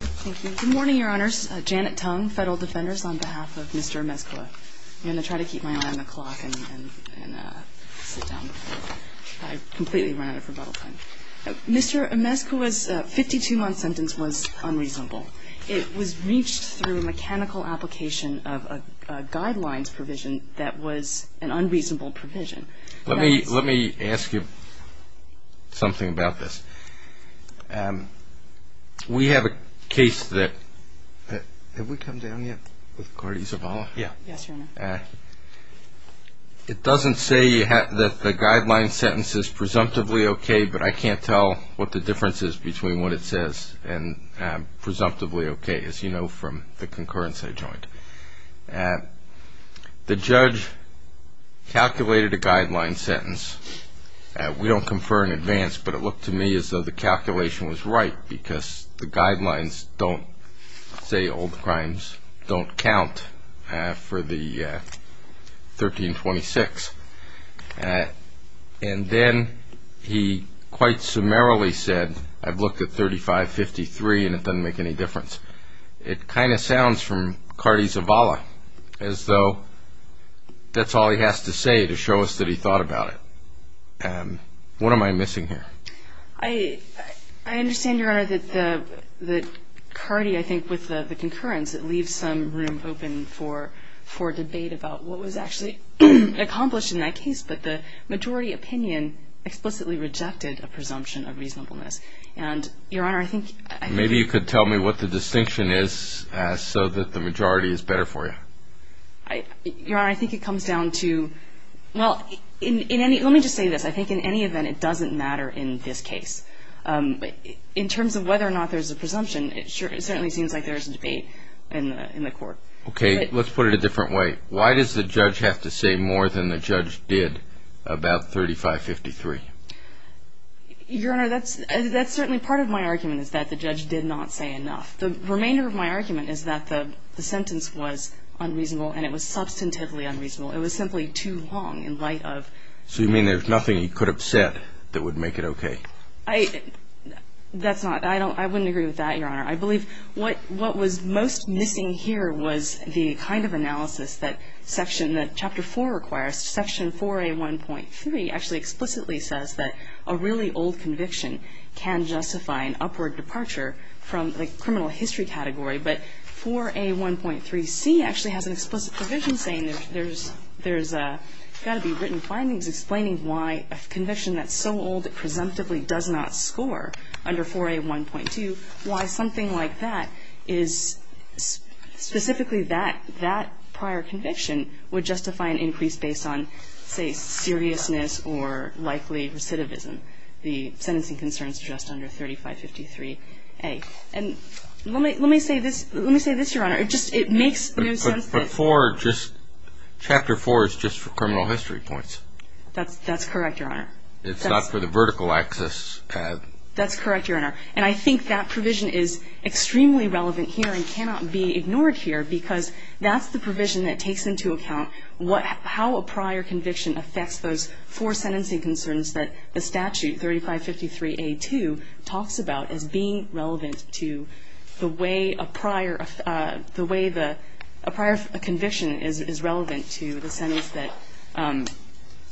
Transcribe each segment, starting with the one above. Thank you. Good morning, Your Honors. Janet Tong, Federal Defenders, on behalf of Mr. Amezcua. I'm going to try to keep my eye on the clock and sit down. I've completely run out of rebuttal time. Mr. Amezcua's 52-month sentence was unreasonable. It was reached through a mechanical application of a guidelines provision that was an unreasonable provision. Let me ask you something about this. We have a case that – have we come down yet with Gordy Zavala? Yes, Your Honor. It doesn't say that the guideline sentence is presumptively okay, but I can't tell what the difference is between what it says and presumptively okay, as you know from the concurrence I joined. The judge calculated a guideline sentence. We don't confer in advance, but it looked to me as though the calculation was right because the guidelines don't say old crimes don't count for the 1326. And then he quite summarily said, I've looked at 3553 and it doesn't make any difference. It kind of sounds from Gordy Zavala as though that's all he has to say to show us that he thought about it. What am I missing here? I understand, Your Honor, that Gordy, I think with the concurrence, it leaves some room open for debate about what was actually accomplished in that case, but the majority opinion explicitly rejected a presumption of reasonableness. Maybe you could tell me what the distinction is so that the majority is better for you. Your Honor, I think it comes down to, well, let me just say this. I think in any event, it doesn't matter in this case. In terms of whether or not there's a presumption, it certainly seems like there's a debate in the court. Okay, let's put it a different way. Why does the judge have to say more than the judge did about 3553? Your Honor, that's certainly part of my argument is that the judge did not say enough. The remainder of my argument is that the sentence was unreasonable and it was substantively unreasonable. It was simply too long in light of. So you mean there's nothing he could have said that would make it okay? That's not, I wouldn't agree with that, Your Honor. I believe what was most missing here was the kind of analysis that Section, in the Chapter 4 requires, Section 4A1.3 actually explicitly says that a really old conviction can justify an upward departure from the criminal history category. But 4A1.3c actually has an explicit provision saying there's got to be written findings explaining why a conviction that's so old it presumptively does not score under 4A1.2, why something like that is specifically that prior conviction would justify an increase based on, say, seriousness or likely recidivism. The sentencing concerns just under 3553A. And let me say this, Your Honor. It just, it makes no sense that. But 4 just, Chapter 4 is just for criminal history points. That's correct, Your Honor. It's not for the vertical axis. That's correct, Your Honor. And I think that provision is extremely relevant here and cannot be ignored here because that's the provision that takes into account what, how a prior conviction affects those four sentencing concerns that the statute, 3553A.2, talks about as being relevant to the way a prior, the way a prior conviction is relevant to the sentence that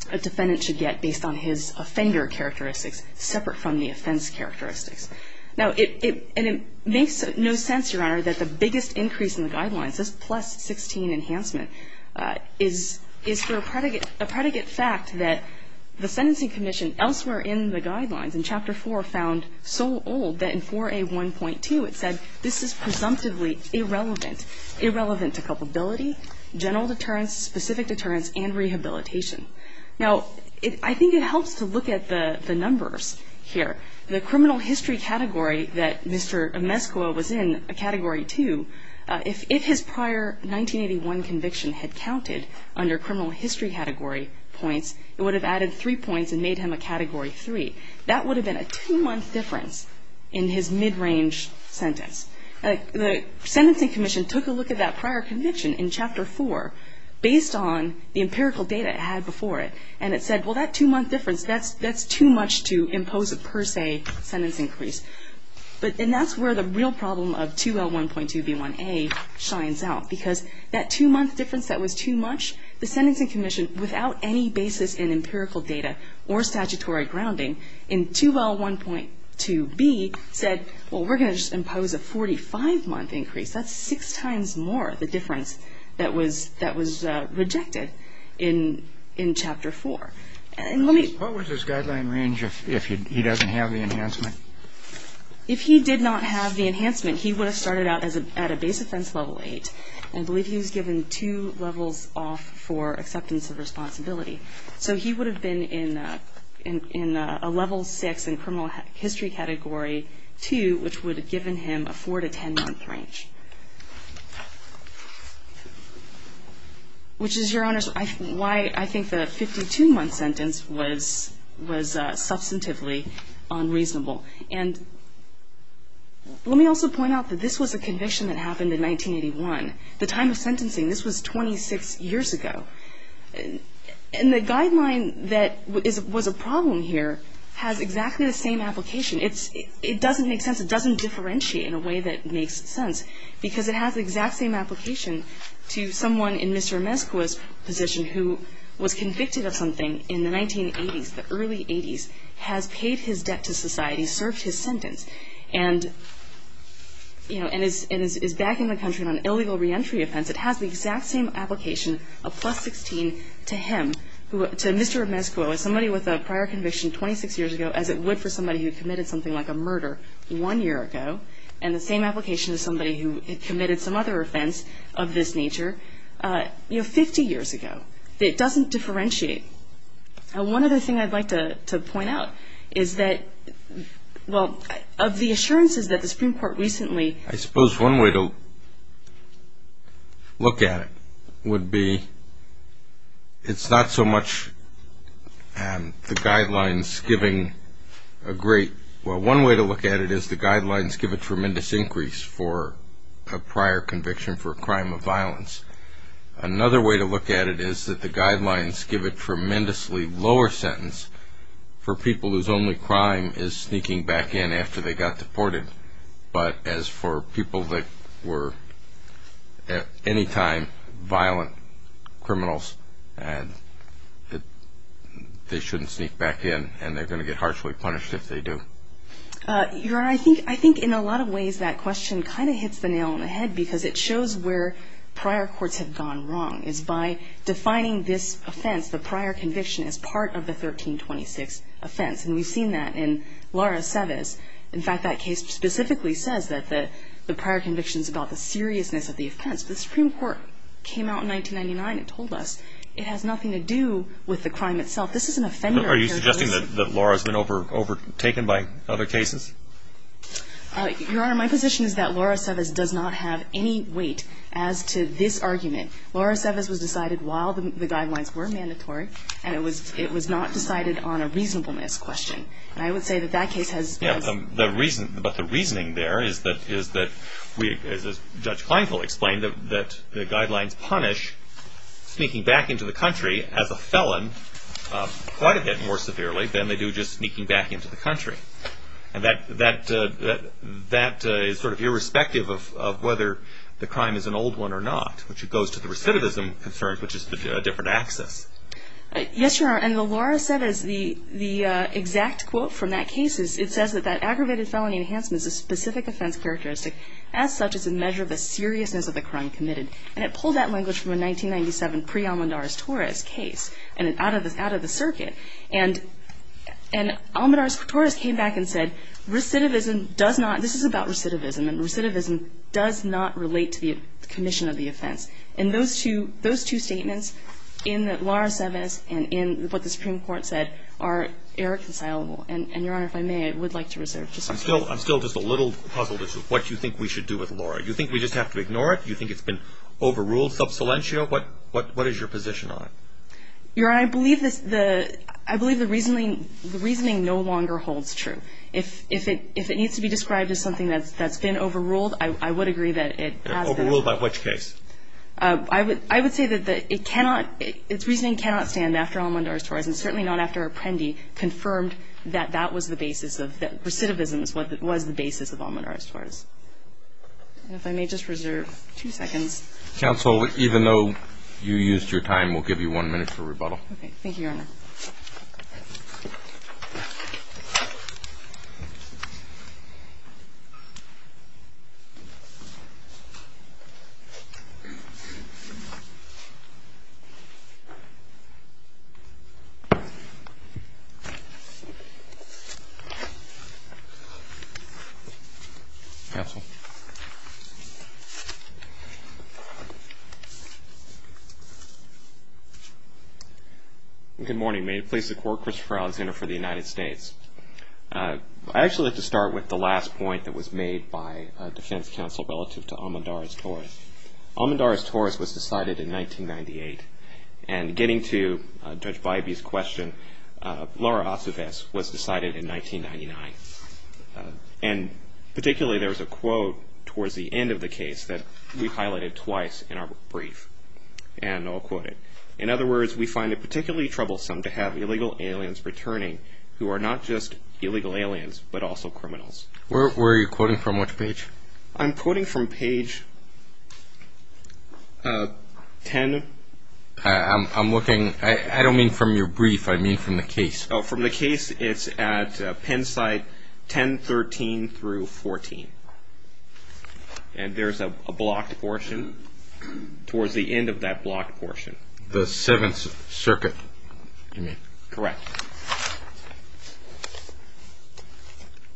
a defendant should get based on his offender characteristics separate from the offense characteristics. Now, it, and it makes no sense, Your Honor, that the biggest increase in the guidelines, this plus 16 enhancement, is, is for a predicate, a predicate fact that the sentencing commission elsewhere in the guidelines, in Chapter 4, found so old that in 4A.1.2 it said this is presumptively irrelevant, irrelevant to culpability, general deterrence, specific deterrence, and rehabilitation. Now, it, I think it helps to look at the, the numbers here. The criminal history category that Mr. Amescuo was in, a Category 2, if, if his prior 1981 conviction had counted under criminal history category points, it would have added three points and made him a Category 3. That would have been a two-month difference in his mid-range sentence. The sentencing commission took a look at that prior conviction in Chapter 4 based on the empirical data it had before it, and it said, well, that two-month difference, that's, that's too much to impose a per se sentence increase. But, and that's where the real problem of 2L1.2b1a shines out, because that two-month difference that was too much, the sentencing commission, without any basis in empirical data or statutory grounding, in 2L1.2b said, well, we're going to just impose a 45-month increase. That's six times more the difference that was, that was rejected in, in Chapter 4. And let me What was his guideline range if, if he doesn't have the enhancement? If he did not have the enhancement, he would have started out as a, at a base offense Level 8. I believe he was given two levels off for acceptance of responsibility. So he would have been in, in, in a Level 6 in criminal history Category 2, which would have given him a 4 to 10-month range. Which is, Your Honors, why I think the 52-month sentence was, was substantively unreasonable. And let me also point out that this was a conviction that happened in 1981. The time of sentencing, this was 26 years ago. And the guideline that is, was a problem here has exactly the same application. It's, it doesn't make sense. It doesn't differentiate in a way that makes sense. Because it has the exact same application to someone in Mr. Meskoa's position who was convicted of something in the 1980s, the early 80s, has paid his debt to society, served his sentence. And, you know, and is, is back in the country on an illegal reentry offense. It has the exact same application, a plus 16, to him, to Mr. Meskoa, somebody with a prior conviction 26 years ago, as it would for somebody who committed something like a murder one year ago. And the same application to somebody who had committed some other offense of this nature, you know, 50 years ago. It doesn't differentiate. And one other thing I'd like to, to point out is that, well, of the assurances that the Supreme Court recently. I suppose one way to look at it would be, it's not so much the guidelines giving a great, well, one way to look at it is the guidelines give a tremendous increase for a prior conviction for a crime of violence. Another way to look at it is that the guidelines give a tremendously lower sentence for people whose only crime is sneaking back in after they got deported. But as for people that were, at any time, violent criminals, they shouldn't sneak back in and they're going to get harshly punished if they do. Your Honor, I think in a lot of ways that question kind of hits the nail on the head because it shows where prior courts have gone wrong. It's by defining this offense, the prior conviction, as part of the 1326 offense. And we've seen that in Laura Seves. In fact, that case specifically says that the prior conviction is about the seriousness of the offense. The Supreme Court came out in 1999 and told us it has nothing to do with the crime itself. This is an offender. Are you suggesting that Laura's been overtaken by other cases? Your Honor, my position is that Laura Seves does not have any weight as to this argument. Laura Seves was decided while the guidelines were mandatory, and it was not decided on a reasonableness question. And I would say that that case has been. But the reasoning there is that, as Judge Kleinfeld explained, that the guidelines punish sneaking back into the country as a felon quite a bit more severely than they do just sneaking back into the country. And that is sort of irrespective of whether the crime is an old one or not, which goes to the recidivism concerns, which is a different axis. Yes, Your Honor, and Laura Seves, the exact quote from that case, it says that that aggravated felony enhancement is a specific offense characteristic as such as a measure of the seriousness of the crime committed. And it pulled that language from a 1997 pre-Almendarez-Torres case and out of the circuit. And Almendarez-Torres came back and said recidivism does not – this is about recidivism and recidivism does not relate to the commission of the offense. And those two statements in Laura Seves and in what the Supreme Court said are irreconcilable. And, Your Honor, if I may, I would like to reserve just a moment. I'm still just a little puzzled as to what you think we should do with Laura. Do you think we just have to ignore it? Do you think it's been overruled sub silentio? What is your position on it? Your Honor, I believe the reasoning no longer holds true. If it needs to be described as something that's been overruled, I would agree that it has been. Overruled by which case? I would say that it cannot – its reasoning cannot stand after Almendarez-Torres and certainly not after Apprendi confirmed that that was the basis of – that recidivism was the basis of Almendarez-Torres. And if I may just reserve two seconds. Counsel, even though you used your time, we'll give you one minute for rebuttal. Okay. Counsel. Good morning. May it please the Court, Christopher Alexander for the United States. I'd actually like to start with the last point that was made by defense counsel relative to Almendarez-Torres. Almendarez-Torres was decided in 1998. And getting to Judge Bybee's question, Laura Osves was decided in 1999. And particularly there was a quote towards the end of the case that we highlighted twice in our brief. And I'll quote it. In other words, we find it particularly troublesome to have illegal aliens returning who are not just illegal aliens but also criminals. Where are you quoting from? Which page? I'm quoting from page 10. I'm looking – I don't mean from your brief. I mean from the case. Oh, from the case. It's at pen site 1013 through 14. And there's a blocked portion towards the end of that blocked portion. The Seventh Circuit, you mean? Correct.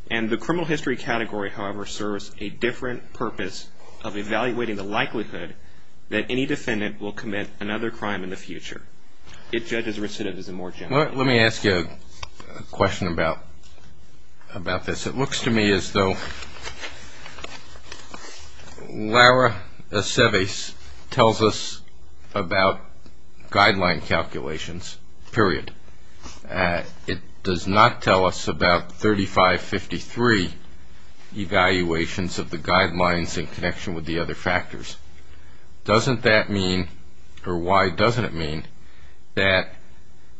And the criminal history category, however, serves a different purpose of evaluating the likelihood that any defendant will commit another crime in the future. It judges recidivism more generally. Let me ask you a question about this. It looks to me as though Laura Osves tells us about guideline calculations, period. It does not tell us about 3553 evaluations of the guidelines in connection with the other factors. Doesn't that mean, or why doesn't it mean, that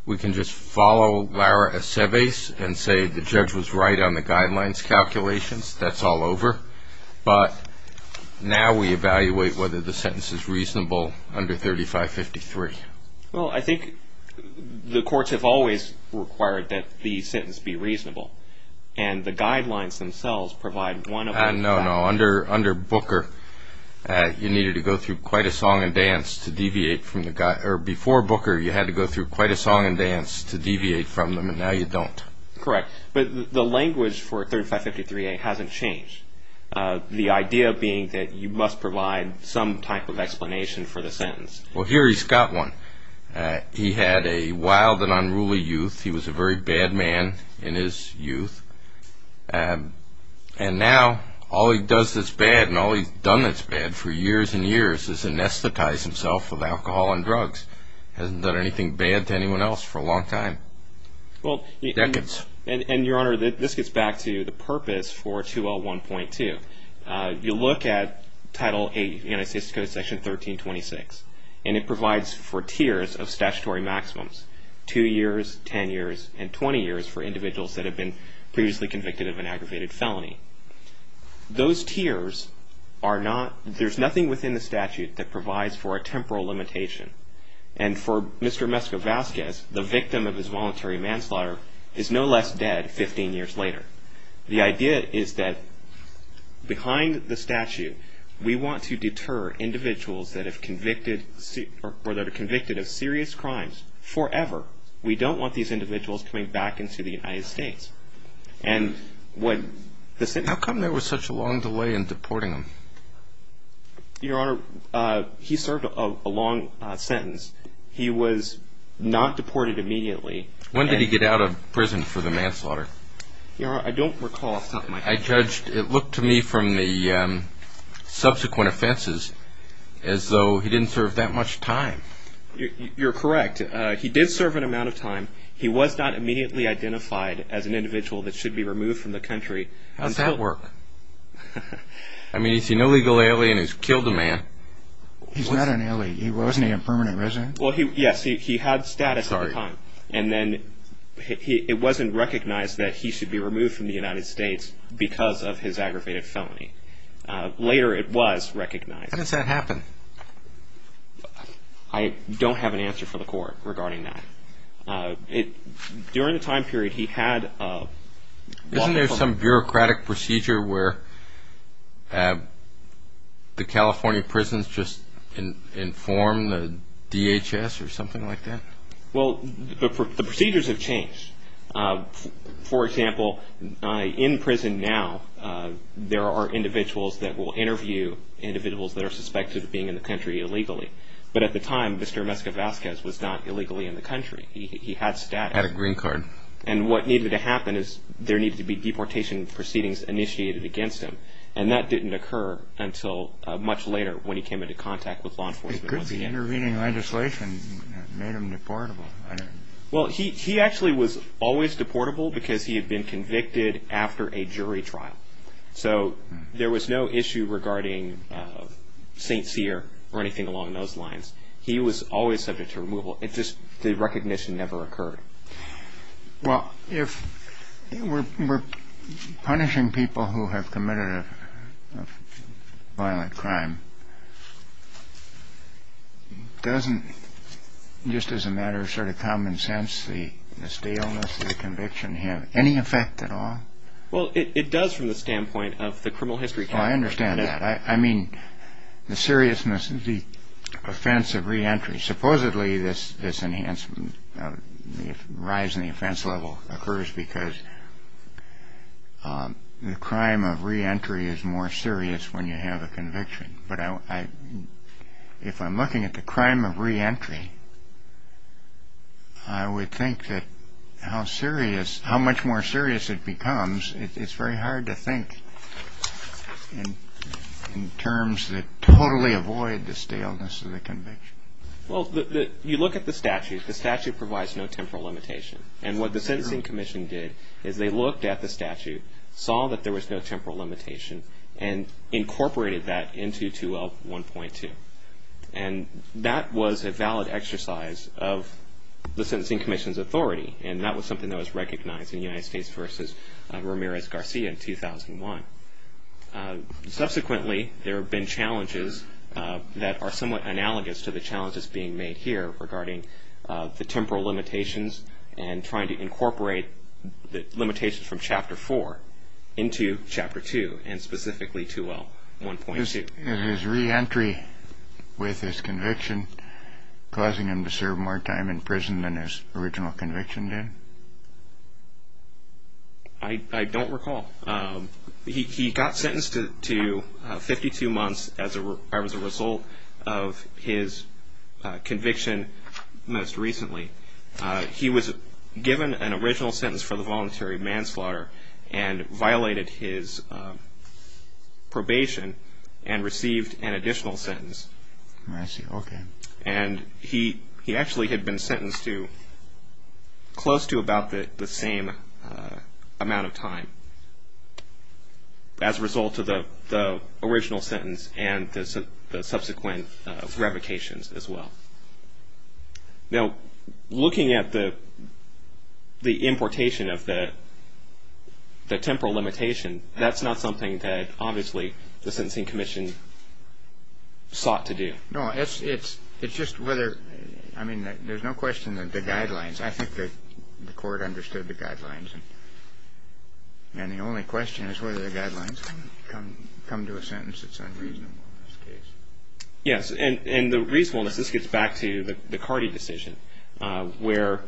we can just follow Laura Osves and say the judge was right on the guidelines calculations? That's all over. But now we evaluate whether the sentence is reasonable under 3553. Well, I think the courts have always required that the sentence be reasonable, and the guidelines themselves provide one of those guidelines. No, no. Under Booker, you needed to go through quite a song and dance to deviate from the – or before Booker, you had to go through quite a song and dance to deviate from them, and now you don't. Correct. But the language for 3553a hasn't changed, the idea being that you must provide some type of explanation for the sentence. Well, here he's got one. He had a wild and unruly youth. He was a very bad man in his youth, and now all he does that's bad and all he's done that's bad for years and years is anesthetize himself with alcohol and drugs. Hasn't done anything bad to anyone else for a long time. Decades. And, Your Honor, this gets back to the purpose for 2L1.2. You look at Title 8, United States Code Section 1326, and it provides for tiers of statutory maximums, 2 years, 10 years, and 20 years for individuals that have been previously convicted of an aggravated felony. Those tiers are not – there's nothing within the statute that provides for a temporal limitation, and for Mr. Meskovaskis, the victim of his voluntary manslaughter is no less dead 15 years later. The idea is that behind the statute we want to deter individuals that have convicted – or that are convicted of serious crimes forever. We don't want these individuals coming back into the United States. And when the sentence – How come there was such a long delay in deporting him? Your Honor, he served a long sentence. He was not deported immediately. When did he get out of prison for the manslaughter? Your Honor, I don't recall off the top of my head. I judged – it looked to me from the subsequent offenses as though he didn't serve that much time. You're correct. He did serve an amount of time. He was not immediately identified as an individual that should be removed from the country. How does that work? I mean, he's an illegal alien who's killed a man. He's not an alien. Wasn't he a permanent resident? Well, yes, he had status at the time. And then it wasn't recognized that he should be removed from the United States because of his aggravated felony. Later it was recognized. How does that happen? I don't have an answer for the court regarding that. During the time period, he had a – Isn't there some bureaucratic procedure where the California prisons just inform the DHS or something like that? Well, the procedures have changed. For example, in prison now, there are individuals that will interview individuals that are suspected of being in the country illegally. But at the time, Mr. Mescavazquez was not illegally in the country. He had status. He had a green card. And what needed to happen is there needed to be deportation proceedings initiated against him. And that didn't occur until much later when he came into contact with law enforcement. The intervening legislation made him deportable. Well, he actually was always deportable because he had been convicted after a jury trial. So there was no issue regarding St. Cyr or anything along those lines. He was always subject to removal. It just – the recognition never occurred. Well, if we're punishing people who have committed a violent crime, doesn't, just as a matter of sort of common sense, the staleness of the conviction have any effect at all? Well, it does from the standpoint of the criminal history. Oh, I understand that. I mean the seriousness of the offense of reentry. Supposedly this enhancement, the rise in the offense level, occurs because the crime of reentry is more serious when you have a conviction. But if I'm looking at the crime of reentry, I would think that how serious – how much more serious it becomes, it's very hard to think in terms that totally avoid the staleness of the conviction. Well, you look at the statute. The statute provides no temporal limitation. And what the Sentencing Commission did is they looked at the statute, saw that there was no temporal limitation, and incorporated that into 2L1.2. And that was a valid exercise of the Sentencing Commission's authority, and that was something that was recognized in United States v. Ramirez-Garcia in 2001. Subsequently, there have been challenges that are somewhat analogous to the challenges being made here regarding the temporal limitations and trying to incorporate the limitations from Chapter 4 into Chapter 2, and specifically 2L1.2. Is his reentry with his conviction causing him to serve more time in prison than his original conviction did? I don't recall. He got sentenced to 52 months as a result of his conviction most recently. He was given an original sentence for the voluntary manslaughter and violated his probation and received an additional sentence. And he actually had been sentenced to close to about the same amount of time as a result of the original sentence and the subsequent revocations as well. Now, looking at the importation of the temporal limitation, that's not something that obviously the Sentencing Commission sought to do. No, it's just whether – I mean, there's no question that the guidelines – I think the Court understood the guidelines, and the only question is whether the guidelines come to a sentence that's unreasonable in this case. Yes, and the reasonableness – this gets back to the Cardi decision, where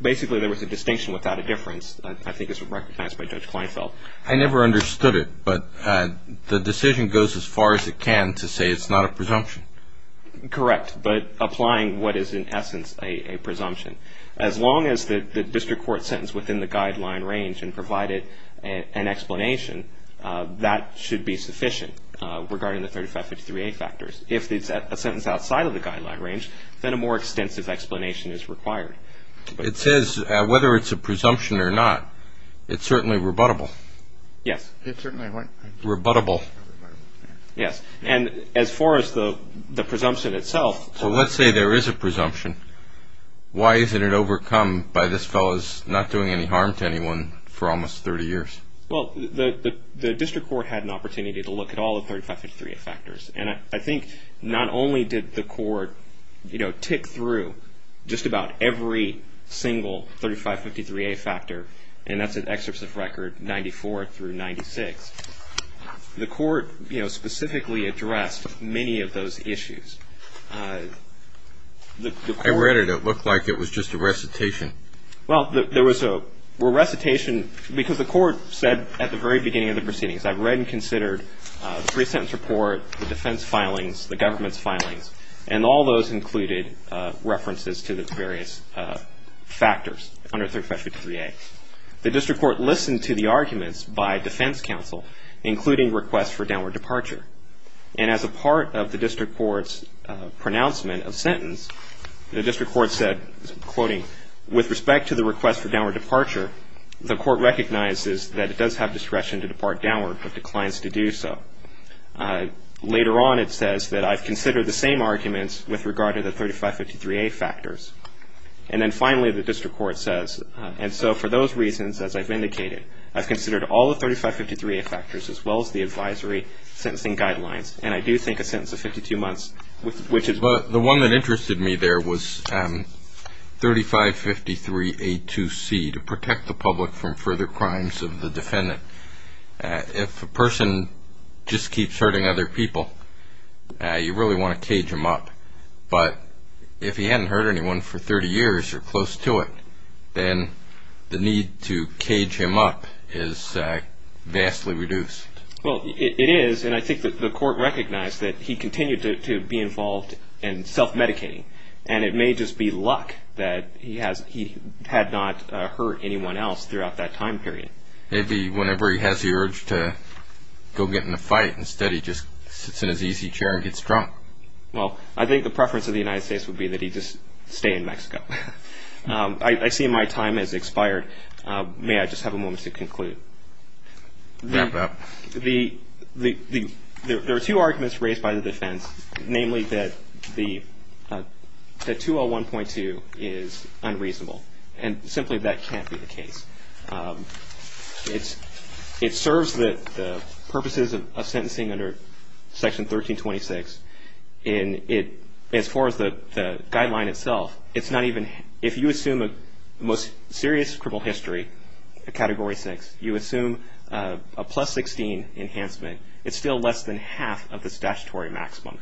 basically there was a distinction without a difference. I think this was recognized by Judge Kleinfeld. I never understood it, but the decision goes as far as it can to say it's not a presumption. Correct, but applying what is in essence a presumption. As long as the district court sentenced within the guideline range and provided an explanation, that should be sufficient regarding the 3553A factors. If it's a sentence outside of the guideline range, then a more extensive explanation is required. It says whether it's a presumption or not, it's certainly rebuttable. Yes. It certainly went – Rebuttable. Yes, and as far as the presumption itself – Well, let's say there is a presumption. Why isn't it overcome by this fellow's not doing any harm to anyone for almost 30 years? Well, the district court had an opportunity to look at all the 3553A factors, and I think not only did the court tick through just about every single 3553A factor, and that's an excerpt of record 94 through 96. The court specifically addressed many of those issues. I read it. It looked like it was just a recitation. Well, there was a recitation because the court said at the very beginning of the proceedings, I've read and considered the pre-sentence report, the defense filings, the government's filings, and all those included references to the various factors under 3553A. The district court listened to the arguments by defense counsel, including requests for downward departure. And as a part of the district court's pronouncement of sentence, the district court said, quoting, with respect to the request for downward departure, the court recognizes that it does have discretion to depart downward but declines to do so. Later on, it says that I've considered the same arguments with regard to the 3553A factors. And then finally, the district court says, and so for those reasons, as I've indicated, I've considered all the 3553A factors as well as the advisory sentencing guidelines, and I do think a sentence of 52 months, which is – what it suggested to me there was 3553A2C, to protect the public from further crimes of the defendant. If a person just keeps hurting other people, you really want to cage him up. But if he hadn't hurt anyone for 30 years or close to it, then the need to cage him up is vastly reduced. Well, it is, and I think that the court recognized that he continued to be involved in self-medicating, and it may just be luck that he had not hurt anyone else throughout that time period. Maybe whenever he has the urge to go get in a fight, instead he just sits in his easy chair and gets drunk. Well, I think the preference of the United States would be that he just stay in Mexico. I see my time has expired. May I just have a moment to conclude? Wrap up. There are two arguments raised by the defense, namely that 201.2 is unreasonable, and simply that can't be the case. It serves the purposes of sentencing under Section 1326, and as far as the guideline itself, if you assume a most serious criminal history, a Category 6, you assume a plus 16 enhancement, it's still less than half of the statutory maximum.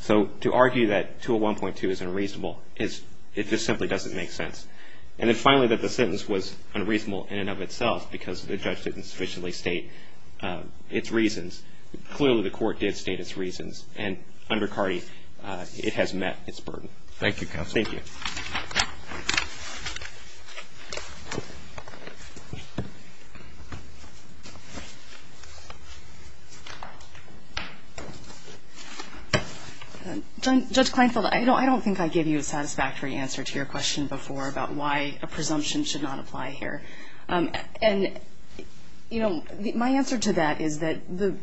So to argue that 201.2 is unreasonable, it just simply doesn't make sense. And then finally that the sentence was unreasonable in and of itself because the judge didn't sufficiently state its reasons. Clearly the court did state its reasons, and under CARDI it has met its burden. Thank you, counsel. Thank you. Judge Kleinfeld, I don't think I gave you a satisfactory answer to your question before about why a presumption should not apply here. And, you know, my answer to that is that the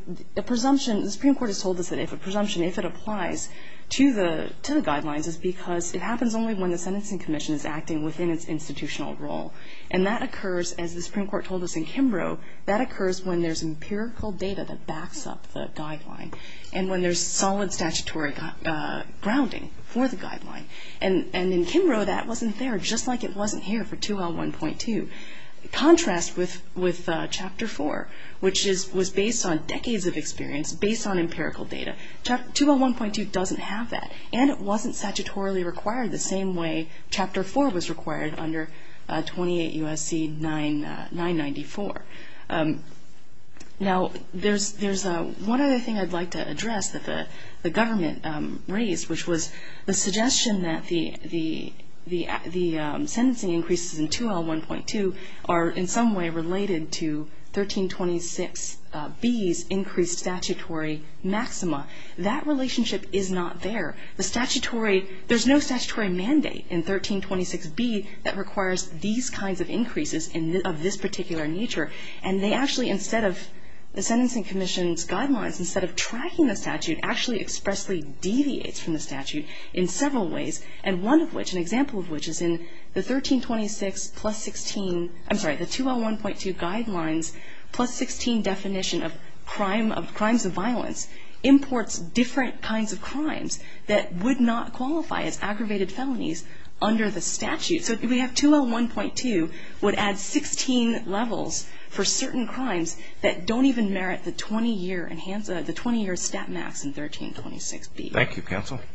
presumption, the Supreme Court has told us that if a presumption, if it applies to the guidelines, is because it happens only when the Sentencing Commission is acting within its institutional role. And that occurs, as the Supreme Court told us in Kimbrough, that occurs when there's empirical data that backs up the guideline and when there's solid statutory grounding for the guideline. And in Kimbrough that wasn't there, just like it wasn't here for 201.2. Contrast with Chapter 4, which was based on decades of experience, based on empirical data. 201.2 doesn't have that. And it wasn't statutorily required the same way Chapter 4 was required under 28 U.S.C. 994. Now there's one other thing I'd like to address that the government raised, which was the suggestion that the sentencing increases in 201.2 are in some way related to 1326B's increased statutory maxima. That relationship is not there. The statutory, there's no statutory mandate in 1326B that requires these kinds of increases of this particular nature. And they actually, instead of, the Sentencing Commission's guidelines, instead of tracking the statute, actually expressly deviates from the statute in several ways. And one of which, an example of which is in the 1326 plus 16, I'm sorry, the 201.2 guidelines plus 16 definition of crimes of violence imports different kinds of crimes that would not qualify as aggravated felonies under the statute. So we have 201.2 would add 16 levels for certain crimes that don't even merit the 20-year enhanced, the 20-year stat max in 1326B. Thank you, counsel.